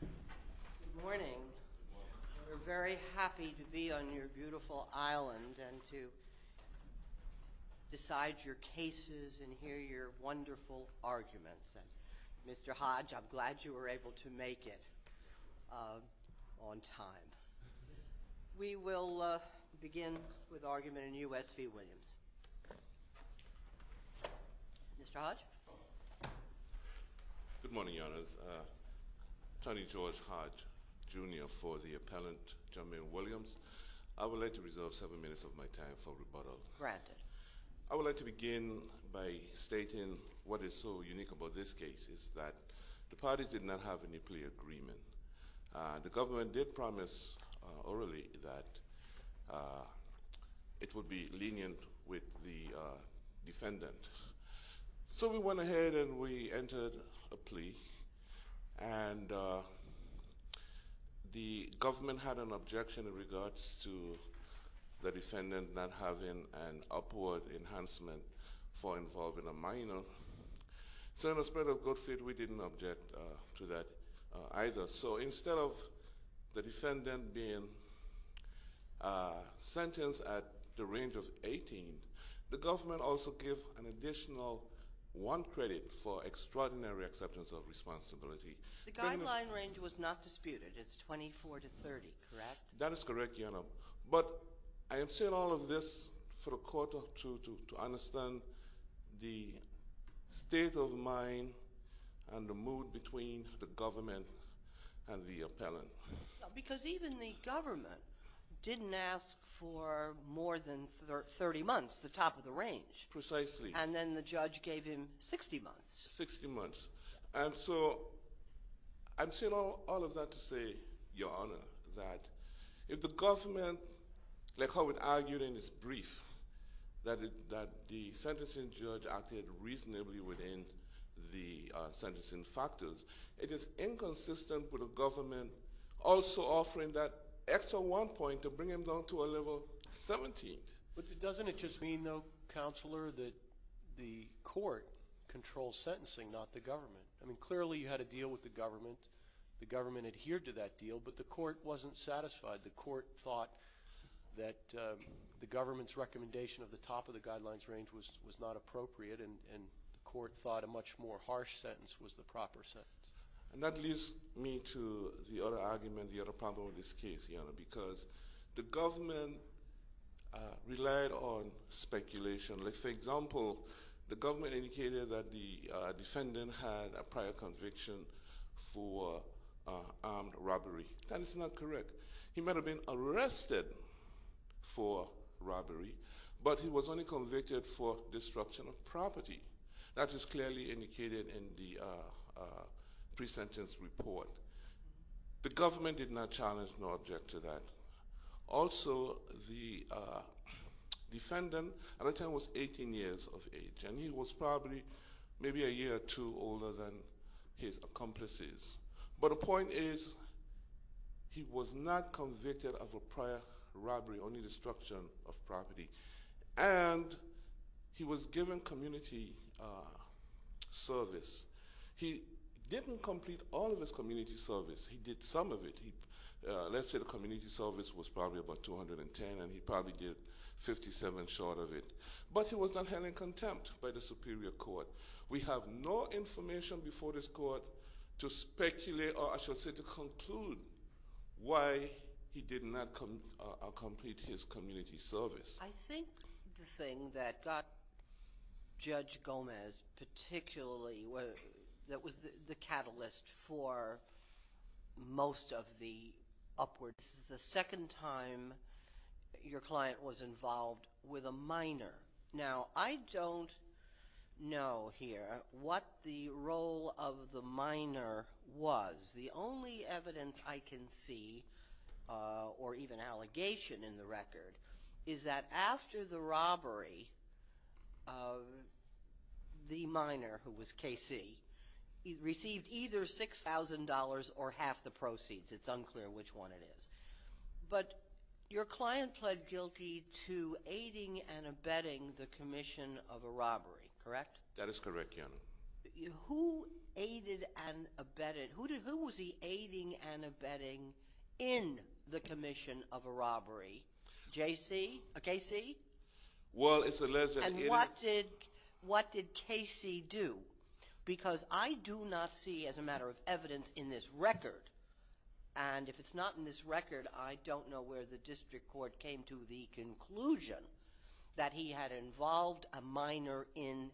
Good morning. We're very happy to be on your beautiful island and to decide your cases and hear your wonderful arguments. Mr. Hodge, I'm glad you were able to make it on time. We will begin with argument in U.S. v. Williams. Mr. Hodge? Good morning, Your Honors. Tony George Hodge, Jr. for the appellant, Jermaine Williams. I would like to reserve seven minutes of my time for rebuttal. Granted. I would like to begin by stating what is so unique about this case is that the parties did not have a nuclear agreement. The government did promise orally that it would be lenient with the defendant. So we went ahead and we entered a plea, and the government had an objection in regards to the defendant not having an upward enhancement for involving a minor. So in the spirit of good fit, we didn't object to that either. So instead of the defendant being sentenced at the range of 18, the government also gave an additional one credit for extraordinary acceptance of responsibility. The guideline range was not disputed. It's 24 to 30, correct? That is correct, Your Honor. But I am saying all of this for the court to understand the state of mind and the mood between the government and the appellant. Because even the government didn't ask for more than 30 months, the top of the range. Precisely. And then the judge gave him 60 months. And so I'm saying all of that to say, Your Honor, that if the government, like how it argued in its brief, that the sentencing judge acted reasonably within the sentencing factors, it is inconsistent with the government also offering that extra one point to bring him down to a level 17. But doesn't it just mean, though, Counselor, that the court controls sentencing, not the government? I mean, clearly you had a deal with the government. The government adhered to that deal, but the court wasn't satisfied. The court thought that the government's recommendation of the top of the guidelines range was not appropriate, and the court thought a much more harsh sentence was the proper sentence. And that leads me to the other argument, the other problem with this case, Your Honor, because the government relied on speculation. Like, for example, the government indicated that the defendant had a prior conviction for armed robbery. That is not correct. He might have been arrested for robbery, but he was only convicted for disruption of property. That is clearly indicated in the pre-sentence report. The government did not challenge nor object to that. Also, the defendant at that time was 18 years of age, and he was probably maybe a year or two older than his accomplices. But the point is, he was not convicted of a prior robbery, only disruption of property. And he was given community service. He didn't complete all of his community service. He did some of it. Let's say the community service was probably about 210, and he probably did 57 short of it. But he was not held in contempt by the superior court. We have no information before this court to speculate or, I should say, to conclude why he did not complete his community service. I think the thing that got Judge Gomez particularly – that was the catalyst for most of the upwards – the second time your client was involved with a minor. Now, I don't know here what the role of the minor was. The only evidence I can see, or even allegation in the record, is that after the robbery, the minor, who was KC, received either $6,000 or half the proceeds. It's unclear which one it is. But your client pled guilty to aiding and abetting the commission of a robbery, correct? That is correct, Your Honor. Who aided and abetted – who was he aiding and abetting in the commission of a robbery? KC? Well, it's alleged that he – And what did KC do? Because I do not see, as a matter of evidence, in this record. And if it's not in this record, I don't know where the district court came to the conclusion that he had involved a minor in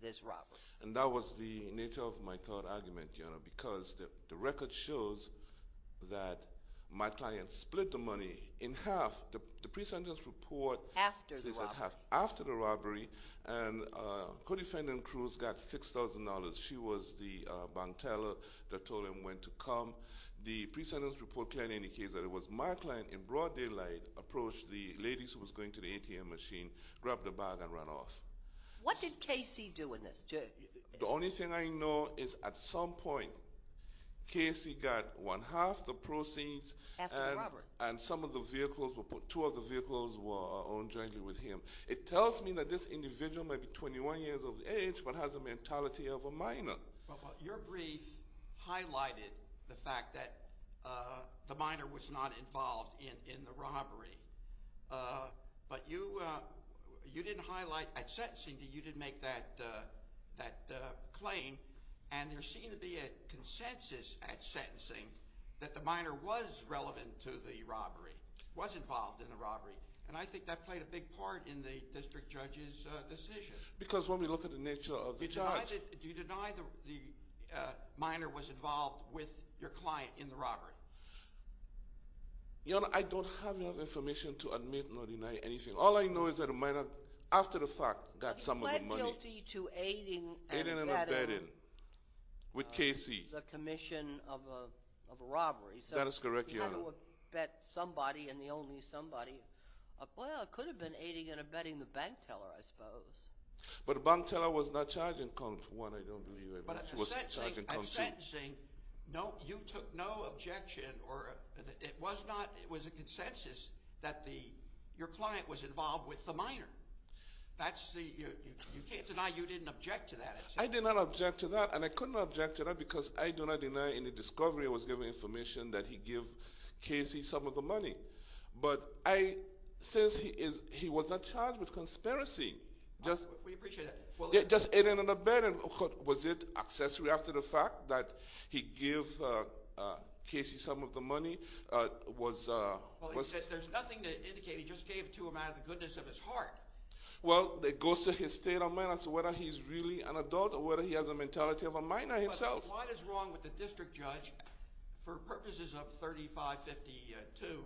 this robbery. And that was the nature of my third argument, Your Honor, because the record shows that my client split the money in half. The pre-sentence report – After the robbery. After the robbery. And Co-defendant Cruz got $6,000. She was the bank teller that told him when to come. The pre-sentence report clearly indicates that it was my client in broad daylight approached the ladies who was going to the ATM machine, grabbed a bag, and ran off. What did KC do in this? The only thing I know is at some point, KC got one half the proceeds. After the robbery. And some of the vehicles – two of the vehicles were owned jointly with him. It tells me that this individual may be 21 years of age but has a mentality of a minor. Your brief highlighted the fact that the minor was not involved in the robbery. But you didn't highlight at sentencing that you didn't make that claim. And there seemed to be a consensus at sentencing that the minor was relevant to the robbery, was involved in the robbery. And I think that played a big part in the district judge's decision. Because when we look at the nature of the charge – Do you deny the minor was involved with your client in the robbery? Your Honor, I don't have enough information to admit or deny anything. All I know is that the minor, after the fact, got some of the money. But he pled guilty to aiding and abetting the commission of a robbery. That is correct, Your Honor. You kind of abet somebody and the only somebody. Well, it could have been aiding and abetting the bank teller, I suppose. But the bank teller was not charged in court, for one. I don't believe he was charged in court. But at sentencing, you took no objection. It was a consensus that your client was involved with the minor. You can't deny you didn't object to that. I did not object to that. And I couldn't object to that because I do not deny any discovery. I was given information that he gave Casey some of the money. But since he was not charged with conspiracy, just aiding and abetting, was it accessory after the fact that he gave Casey some of the money? There's nothing to indicate. He just gave it to him out of the goodness of his heart. Well, it goes to his state of mind as to whether he's really an adult or whether he has a mentality of a minor himself. So what is wrong with the district judge, for purposes of 3552, is it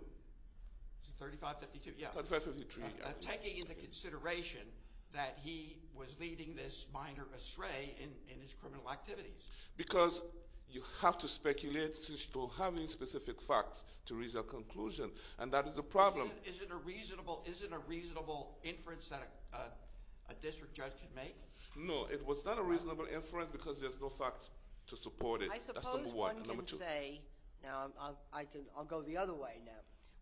3552? Yeah. 3553. Taking into consideration that he was leading this minor astray in his criminal activities. Because you have to speculate to having specific facts to reach a conclusion, and that is a problem. Isn't a reasonable inference that a district judge can make? No. It was not a reasonable inference because there's no facts to support it. That's number one. Number two. I suppose one can say, now I'll go the other way now.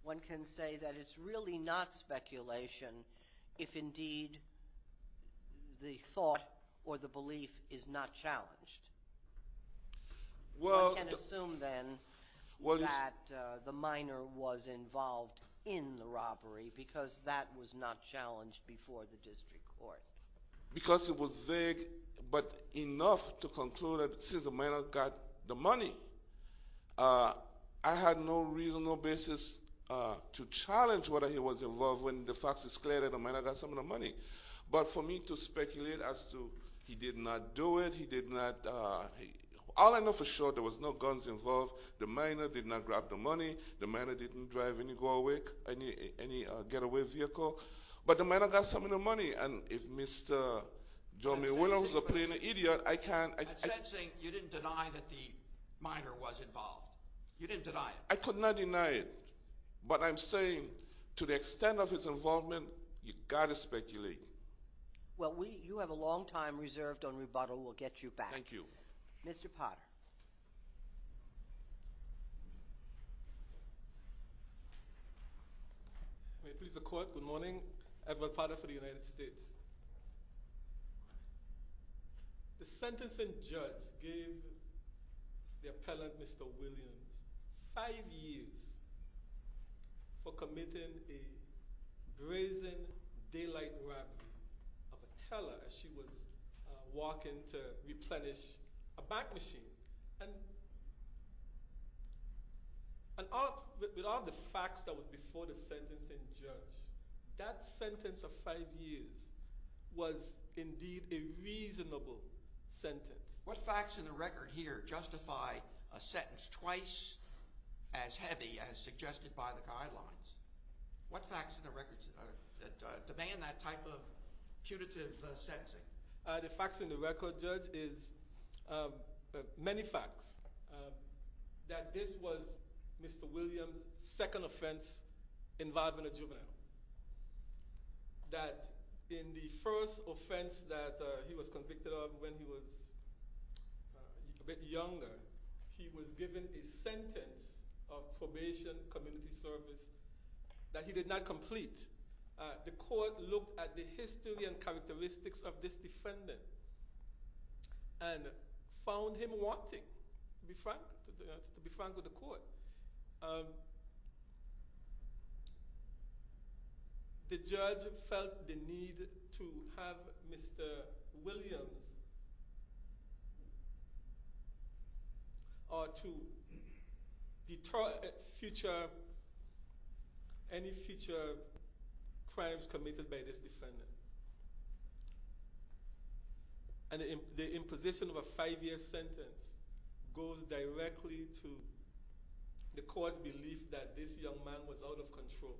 One can say that it's really not speculation if indeed the thought or the belief is not challenged. One can assume then that the minor was involved in the robbery because that was not challenged before the district court. Because it was vague but enough to conclude that since the minor got the money, I had no reason, no basis to challenge whether he was involved when the facts is clear that the minor got some of the money. But for me to speculate as to he did not do it, he did not, all I know for sure there was no guns involved. The minor did not grab the money. The minor didn't drive any getaway vehicle. But the minor got some of the money. And if Mr. Jomi Williams is a plain idiot, I can't. You didn't deny that the minor was involved. You didn't deny it. I could not deny it. But I'm saying to the extent of his involvement, you've got to speculate. Well, you have a long time reserved on rebuttal. We'll get you back. Thank you. Mr. Potter. May it please the court. Good morning. Edward Potter for the United States. The sentencing judge gave the appellant, Mr. Williams, five years for committing a brazen daylight rap of a teller as she was walking to replenish a bank machine. And with all the facts that were before the sentencing judge, that sentence of five years was indeed a reasonable sentence. What facts in the record here justify a sentence twice as heavy as suggested by the guidelines? What facts in the record demand that type of punitive sentencing? The facts in the record, Judge, is many facts. That this was Mr. Williams' second offense involving a juvenile. That in the first offense that he was convicted of when he was a bit younger, he was given a sentence of probation, community service, that he did not complete. The court looked at the history and characteristics of this defendant and found him wanting to be frank with the court. The judge felt the need to have Mr. Williams or to deter any future crimes committed by this defendant. And the imposition of a five-year sentence goes directly to the court's belief that this young man was out of control.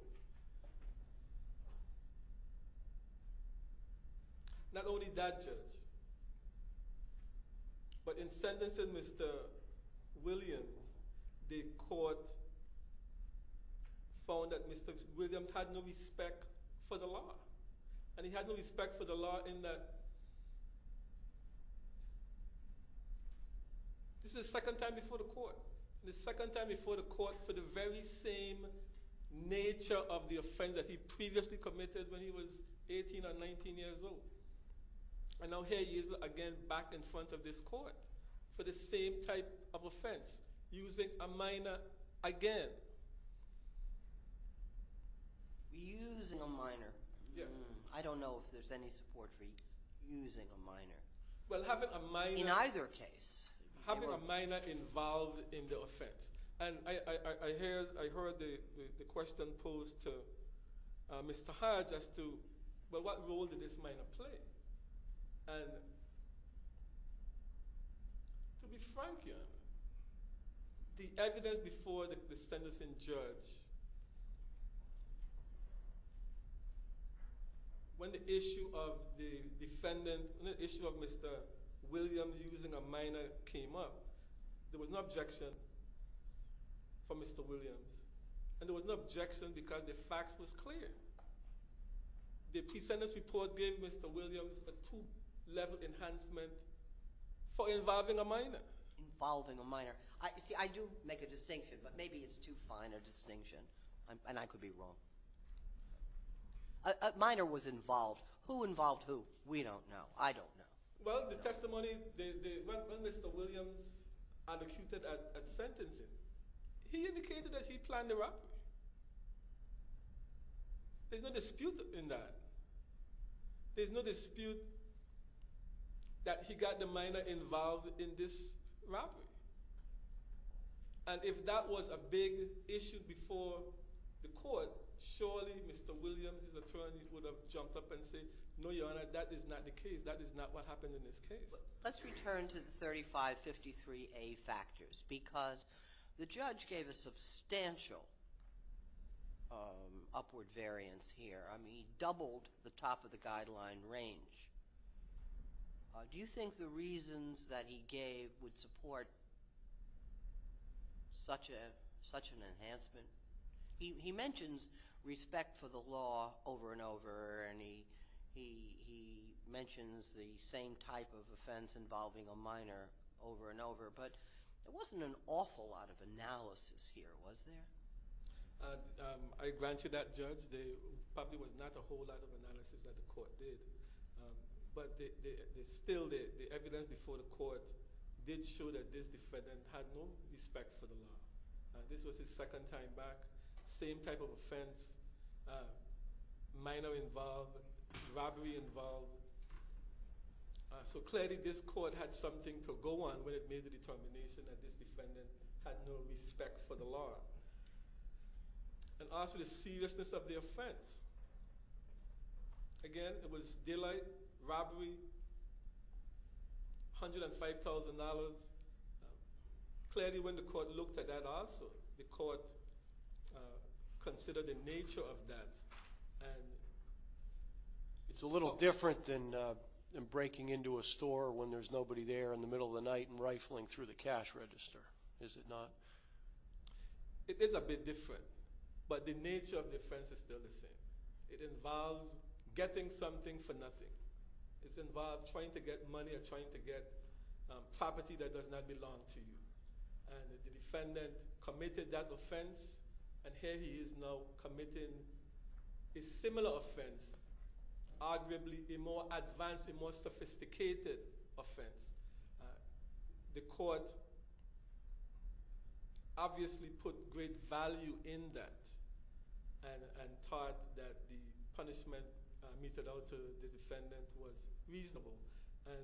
Not only that, Judge, but in sentencing Mr. Williams, the court found that Mr. Williams had no respect for the law. And he had no respect for the law in that this is the second time before the court. The second time before the court for the very same nature of the offense that he previously committed when he was 18 or 19 years old. And now here he is again back in front of this court for the same type of offense, using a minor again. Using a minor. Yes. I don't know if there's any support for using a minor. Well, having a minor. In either case. Having a minor involved in the offense. And I heard the question posed to Mr. Hodge as to, well, what role did this minor play? And to be frank here, the evidence before the sentencing, Judge, when the issue of the defendant, when the issue of Mr. Williams using a minor came up, there was no objection from Mr. Williams. And there was no objection because the facts was clear. The pre-sentence report gave Mr. Williams a two-level enhancement for involving a minor. Involving a minor. See, I do make a distinction, but maybe it's too fine a distinction. And I could be wrong. A minor was involved. Who involved who? We don't know. I don't know. Well, the testimony, when Mr. Williams advocated at sentencing, he indicated that he planned the robbery. There's no dispute in that. There's no dispute that he got the minor involved in this robbery. And if that was a big issue before the court, surely Mr. Williams' attorney would have jumped up and said, no, Your Honor, that is not the case. That is not what happened in this case. Let's return to the 3553A factors because the judge gave a substantial upward variance here. He doubled the top of the guideline range. Do you think the reasons that he gave would support such an enhancement? He mentions respect for the law over and over, and he mentions the same type of offense involving a minor over and over. But there wasn't an awful lot of analysis here, was there? I grant you that, Judge. There probably was not a whole lot of analysis that the court did. But still, the evidence before the court did show that this defendant had no respect for the law. Minor involved, robbery involved. So clearly this court had something to go on when it made the determination that this defendant had no respect for the law. And also the seriousness of the offense. Again, it was daylight, robbery, $105,000. Clearly when the court looked at that also, the court considered the nature of that. It's a little different than breaking into a store when there's nobody there in the middle of the night and rifling through the cash register, is it not? It is a bit different, but the nature of the offense is still the same. It involves getting something for nothing. It involves trying to get money or trying to get property that does not belong to you. And the defendant committed that offense, and here he is now committing a similar offense. Arguably a more advanced, a more sophisticated offense. The court obviously put great value in that and thought that the punishment meted out to the defendant was reasonable. And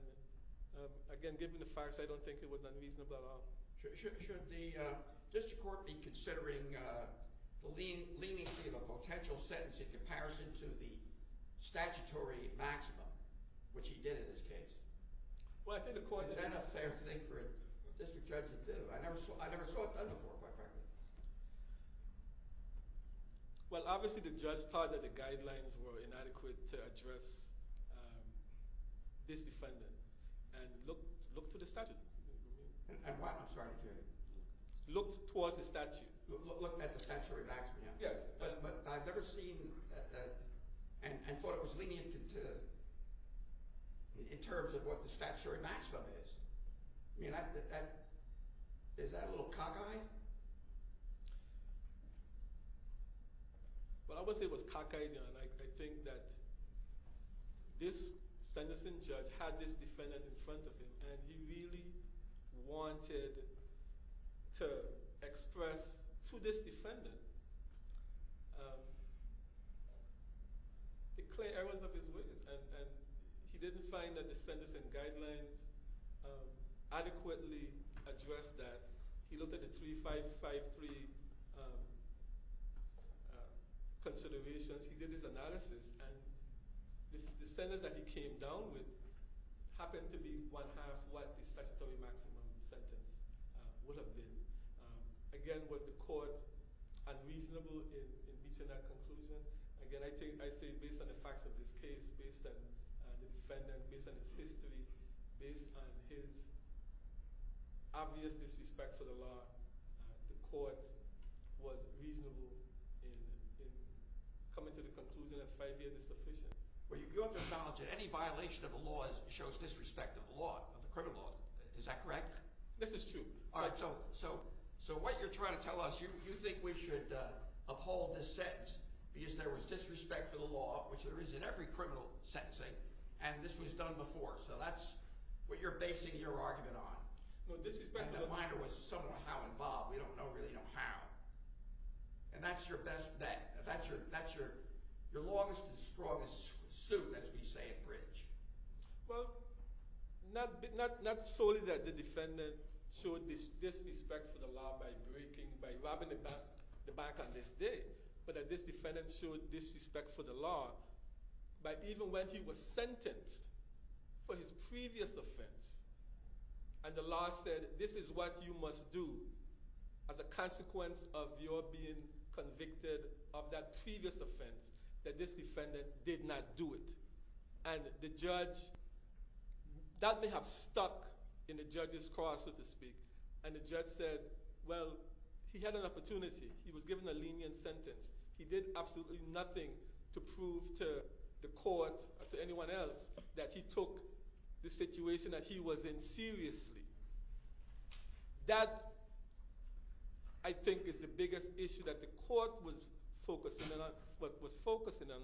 again, given the facts, I don't think it was unreasonable at all. Should the district court be considering the leniency of a potential sentence in comparison to the statutory maximum, which he did in this case? Is that a fair thing for a district judge to do? I never saw it done before, quite frankly. Well, obviously the judge thought that the guidelines were inadequate to address this defendant and looked to the statute. And what, I'm sorry, Jerry? Looked towards the statute. Looked at the statutory maximum. Yes, but I've never seen and thought it was lenient in terms of what the statutory maximum is. I mean, is that a little cockeyed? Well, I wouldn't say it was cockeyed. I think that this sentencing judge had this defendant in front of him, and he really wanted to express to this defendant the clear errors of his witness. And he didn't find that the sentencing guidelines adequately addressed that. He looked at the 3553 considerations. He did his analysis, and the sentence that he came down with happened to be one-half what the statutory maximum sentence would have been. Again, was the court unreasonable in reaching that conclusion? Again, I say based on the facts of this case, based on the defendant, based on his history, based on his obvious disrespect for the law, the court was reasonable in coming to the conclusion that five years is sufficient. Well, you have to acknowledge that any violation of the law shows disrespect of the law, of the criminal law. Is that correct? This is true. All right, so what you're trying to tell us, you think we should uphold this sentence because there was disrespect for the law, which there is in every criminal sentencing, and this was done before. So that's what you're basing your argument on. No, disrespect of the law. The reminder was somewhat how involved. We don't really know how. And that's your best bet. That's your longest and strongest suit, as we say at Bridge. Well, not solely that the defendant showed disrespect for the law by breaking, by robbing the bank on this day, but that this defendant showed disrespect for the law by even when he was sentenced for his previous offense. And the law said, this is what you must do as a consequence of your being convicted of that previous offense, that this defendant did not do it. And the judge, that may have stuck in the judge's car, so to speak. And the judge said, well, he had an opportunity. He was given a lenient sentence. He did absolutely nothing to prove to the court or to anyone else that he took the situation that he was in seriously. That, I think, is the biggest issue that the court was focusing on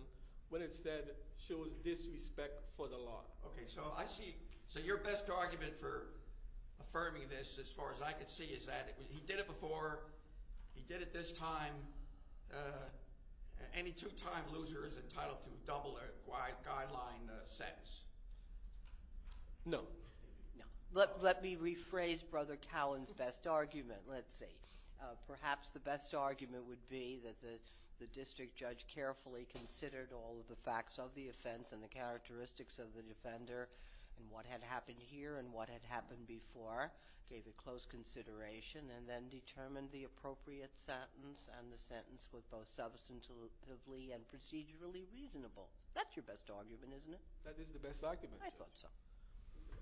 when it said, shows disrespect for the law. Okay, so I see. So your best argument for affirming this, as far as I can see, is that he did it before. He did it this time. Any two-time loser is entitled to double a guideline sentence. No. Let me rephrase Brother Cowan's best argument. Let's see. Perhaps the best argument would be that the district judge carefully considered all of the facts of the offense and the characteristics of the defender and what had happened here and what had happened before, gave it close consideration, and then determined the appropriate sentence and the sentence was both substantively and procedurally reasonable. That's your best argument, isn't it? That is the best argument, Judge. I thought so.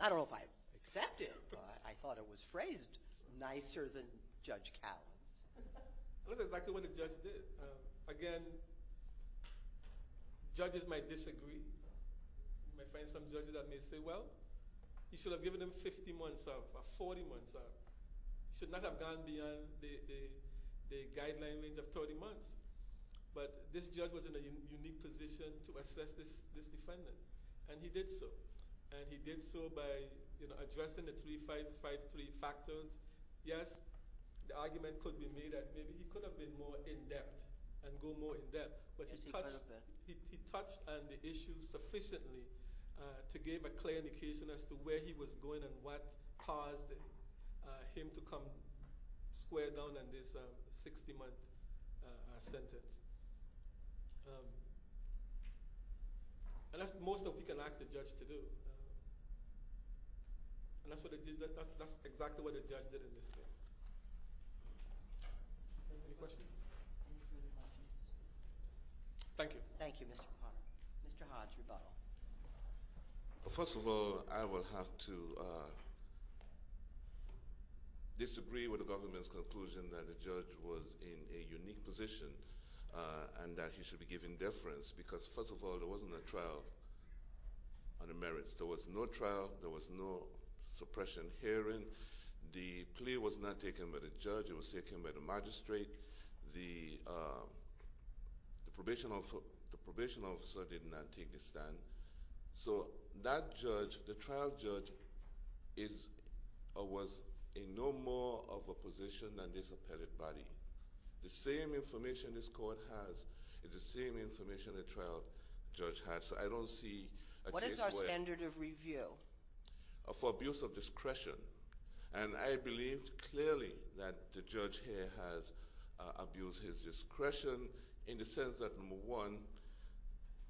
I don't know if I accept it, but I thought it was phrased nicer than Judge Cowan's. That's exactly what the judge did. Again, judges might disagree. You might find some judges that may say, well, you should have given him 50 months off or 40 months off. You should not have gone beyond the guideline range of 30 months. But this judge was in a unique position to assess this defendant, and he did so. And he did so by addressing the 3-5-5-3 factors. Yes, the argument could be made that maybe he could have been more in-depth and go more in-depth, but he touched on the issue sufficiently to give a clear indication as to where he was going and what caused him to come square down on this 60-month sentence. And that's most of what we can ask the judge to do. And that's exactly what the judge did in this case. Any questions? Thank you. Thank you, Mr. Cowan. Mr. Hodge, rebuttal. First of all, I will have to disagree with the government's conclusion that the judge was in a unique position and that he should be given deference because, first of all, there wasn't a trial on the merits. There was no trial. There was no suppression hearing. The plea was not taken by the judge. It was taken by the magistrate. The probation officer did not take the stand. So that judge, the trial judge, was in no more of a position than this appellate body. The same information this court has is the same information the trial judge had. So I don't see a case where— What is our standard of review? For abuse of discretion. And I believe clearly that the judge here has abused his discretion in the sense that, number one,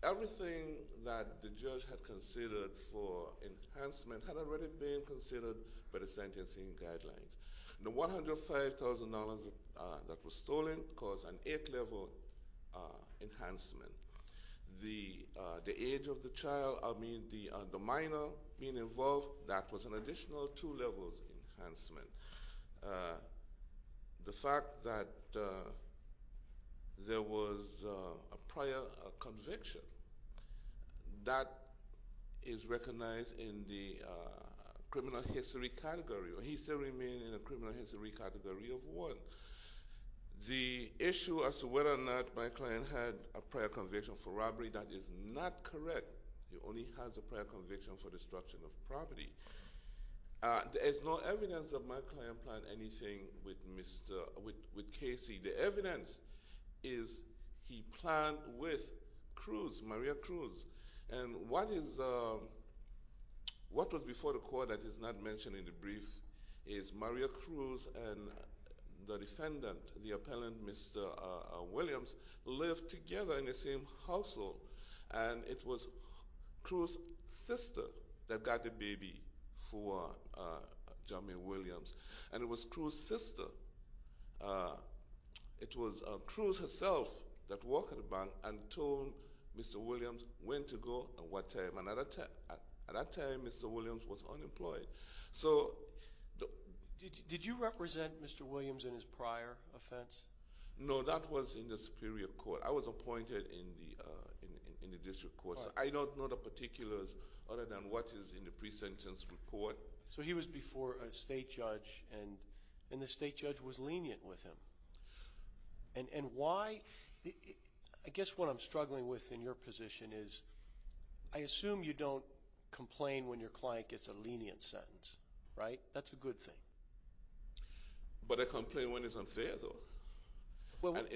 everything that the judge had considered for enhancement had already been considered by the sentencing guidelines. The $105,000 that was stolen caused an eighth-level enhancement. The age of the child, I mean, the minor being involved, that was an additional two levels enhancement. The fact that there was a prior conviction, that is recognized in the criminal history category, or he still remained in the criminal history category of one. The issue as to whether or not my client had a prior conviction for robbery, that is not correct. He only has a prior conviction for destruction of property. There is no evidence that my client planned anything with Casey. The evidence is he planned with Cruz, Maria Cruz. And what was before the court that is not mentioned in the brief is Maria Cruz and the defendant, the appellant, Mr. Williams, lived together in the same household. And it was Cruz's sister that got the baby for Jermaine Williams. And it was Cruz's sister— —who told Mr. Williams when to go and what time. And at that time, Mr. Williams was unemployed. So— Did you represent Mr. Williams in his prior offense? No, that was in the Superior Court. I was appointed in the district court. I don't know the particulars other than what is in the pre-sentence report. So he was before a state judge, and the state judge was lenient with him. And why—I guess what I'm struggling with in your position is, I assume you don't complain when your client gets a lenient sentence, right? That's a good thing. But I complain when it's unfair, though.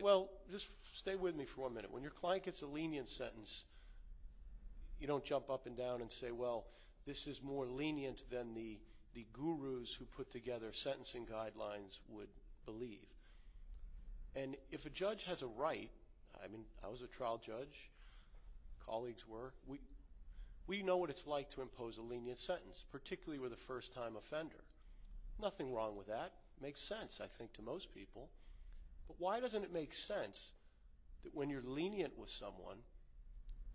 Well, just stay with me for one minute. When your client gets a lenient sentence, you don't jump up and down and say, well, this is more lenient than the gurus who put together sentencing guidelines would believe. And if a judge has a right—I mean, I was a trial judge. Colleagues were. We know what it's like to impose a lenient sentence, particularly with a first-time offender. Nothing wrong with that. It makes sense, I think, to most people. But why doesn't it make sense that when you're lenient with someone,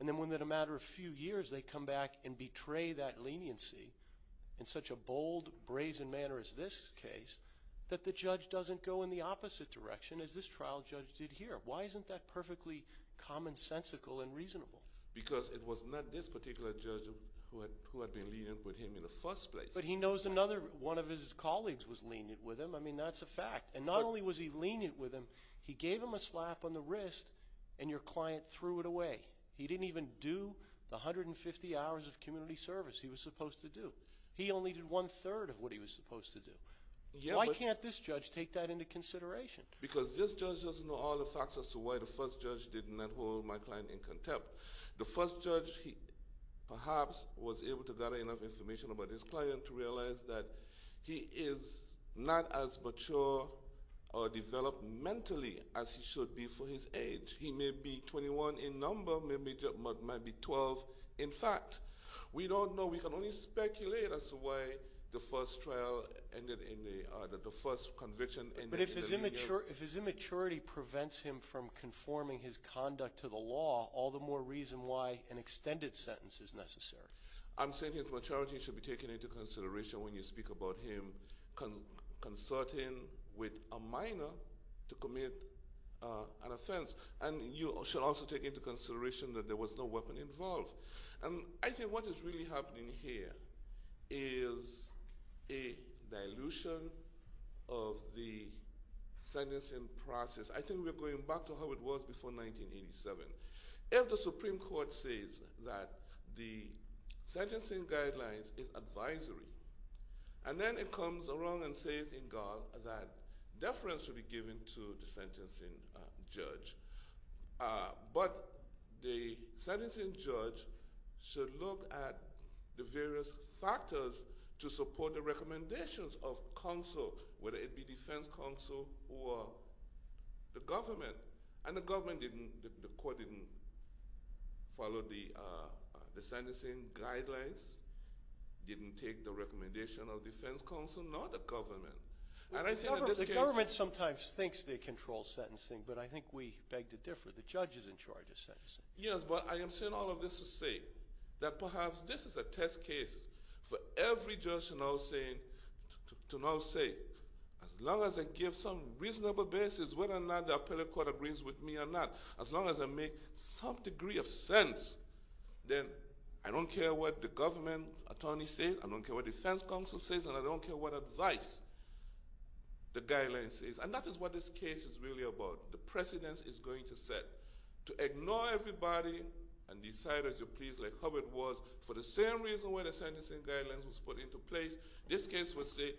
and then within a matter of a few years they come back and betray that leniency in such a bold, brazen manner as this case, that the judge doesn't go in the opposite direction as this trial judge did here? Why isn't that perfectly commonsensical and reasonable? Because it was not this particular judge who had been lenient with him in the first place. But he knows another—one of his colleagues was lenient with him. I mean, that's a fact. And not only was he lenient with him, he gave him a slap on the wrist, and your client threw it away. He didn't even do the 150 hours of community service he was supposed to do. He only did one-third of what he was supposed to do. Why can't this judge take that into consideration? Because this judge doesn't know all the facts as to why the first judge did not hold my client in contempt. The first judge, perhaps, was able to gather enough information about his client to realize that he is not as mature or developed mentally as he should be for his age. He may be 21 in number, may be 12. In fact, we don't know. We can only speculate as to why the first trial ended in the—the first conviction— But if his immaturity prevents him from conforming his conduct to the law, all the more reason why an extended sentence is necessary. I'm saying his maturity should be taken into consideration when you speak about him consulting with a minor to commit an offense. And you should also take into consideration that there was no weapon involved. And I think what is really happening here is a dilution of the sentencing process. I think we're going back to how it was before 1987. If the Supreme Court says that the sentencing guidelines is advisory, and then it comes along and says in God that deference should be given to the sentencing judge, but the sentencing judge should look at the various factors to support the recommendations of counsel, whether it be defense counsel or the government. And the government didn't—the court didn't follow the sentencing guidelines, didn't take the recommendation of defense counsel, nor the government. And I think in this case— The government sometimes thinks they control sentencing, but I think we beg to differ. The judge is in charge of sentencing. Yes, but I am saying all of this to say that perhaps this is a test case for every judge to now say, as long as I give some reasonable basis whether or not the appellate court agrees with me or not, as long as I make some degree of sense, then I don't care what the government attorney says, I don't care what defense counsel says, and I don't care what advice the guidelines says. And that is what this case is really about. The precedence is going to set. To ignore everybody and decide as you please like Hubbard was, for the same reason why the sentencing guidelines was put into place, this case was set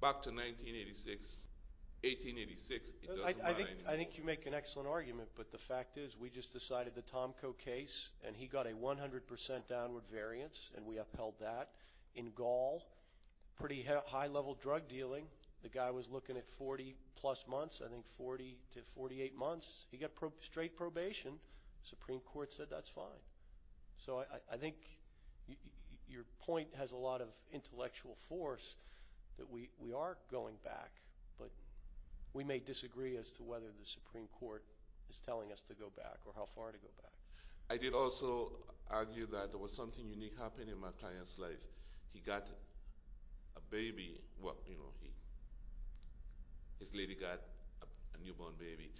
back to 1986. 1886, it doesn't matter anymore. I think you make an excellent argument, but the fact is we just decided the Tomko case, and he got a 100 percent downward variance, and we upheld that. In Gaul, pretty high-level drug dealing. The guy was looking at 40-plus months, I think 40 to 48 months. He got straight probation. Supreme Court said that's fine. So I think your point has a lot of intellectual force that we are going back, but we may disagree as to whether the Supreme Court is telling us to go back or how far to go back. I did also argue that there was something unique happening in my client's life. He got a baby, you know, his lady got a newborn baby,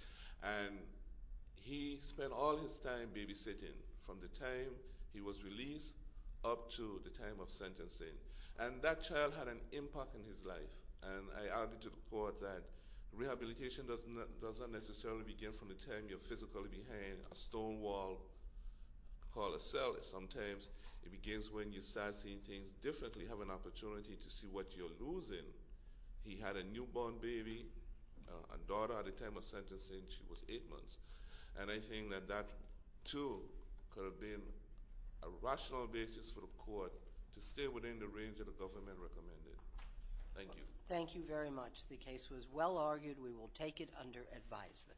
and he spent all his time babysitting from the time he was released up to the time of sentencing, and that child had an impact on his life, and I argued to the court that rehabilitation doesn't necessarily begin from the time you're physically behind a stone wall called a cell. Sometimes it begins when you start seeing things differently, have an opportunity to see what you're losing. He had a newborn baby, a daughter at the time of sentencing, she was eight months, and I think that that, too, could have been a rational basis for the court to stay within the range that the government recommended. Thank you. Thank you very much. The case was well argued. We will take it under advisement.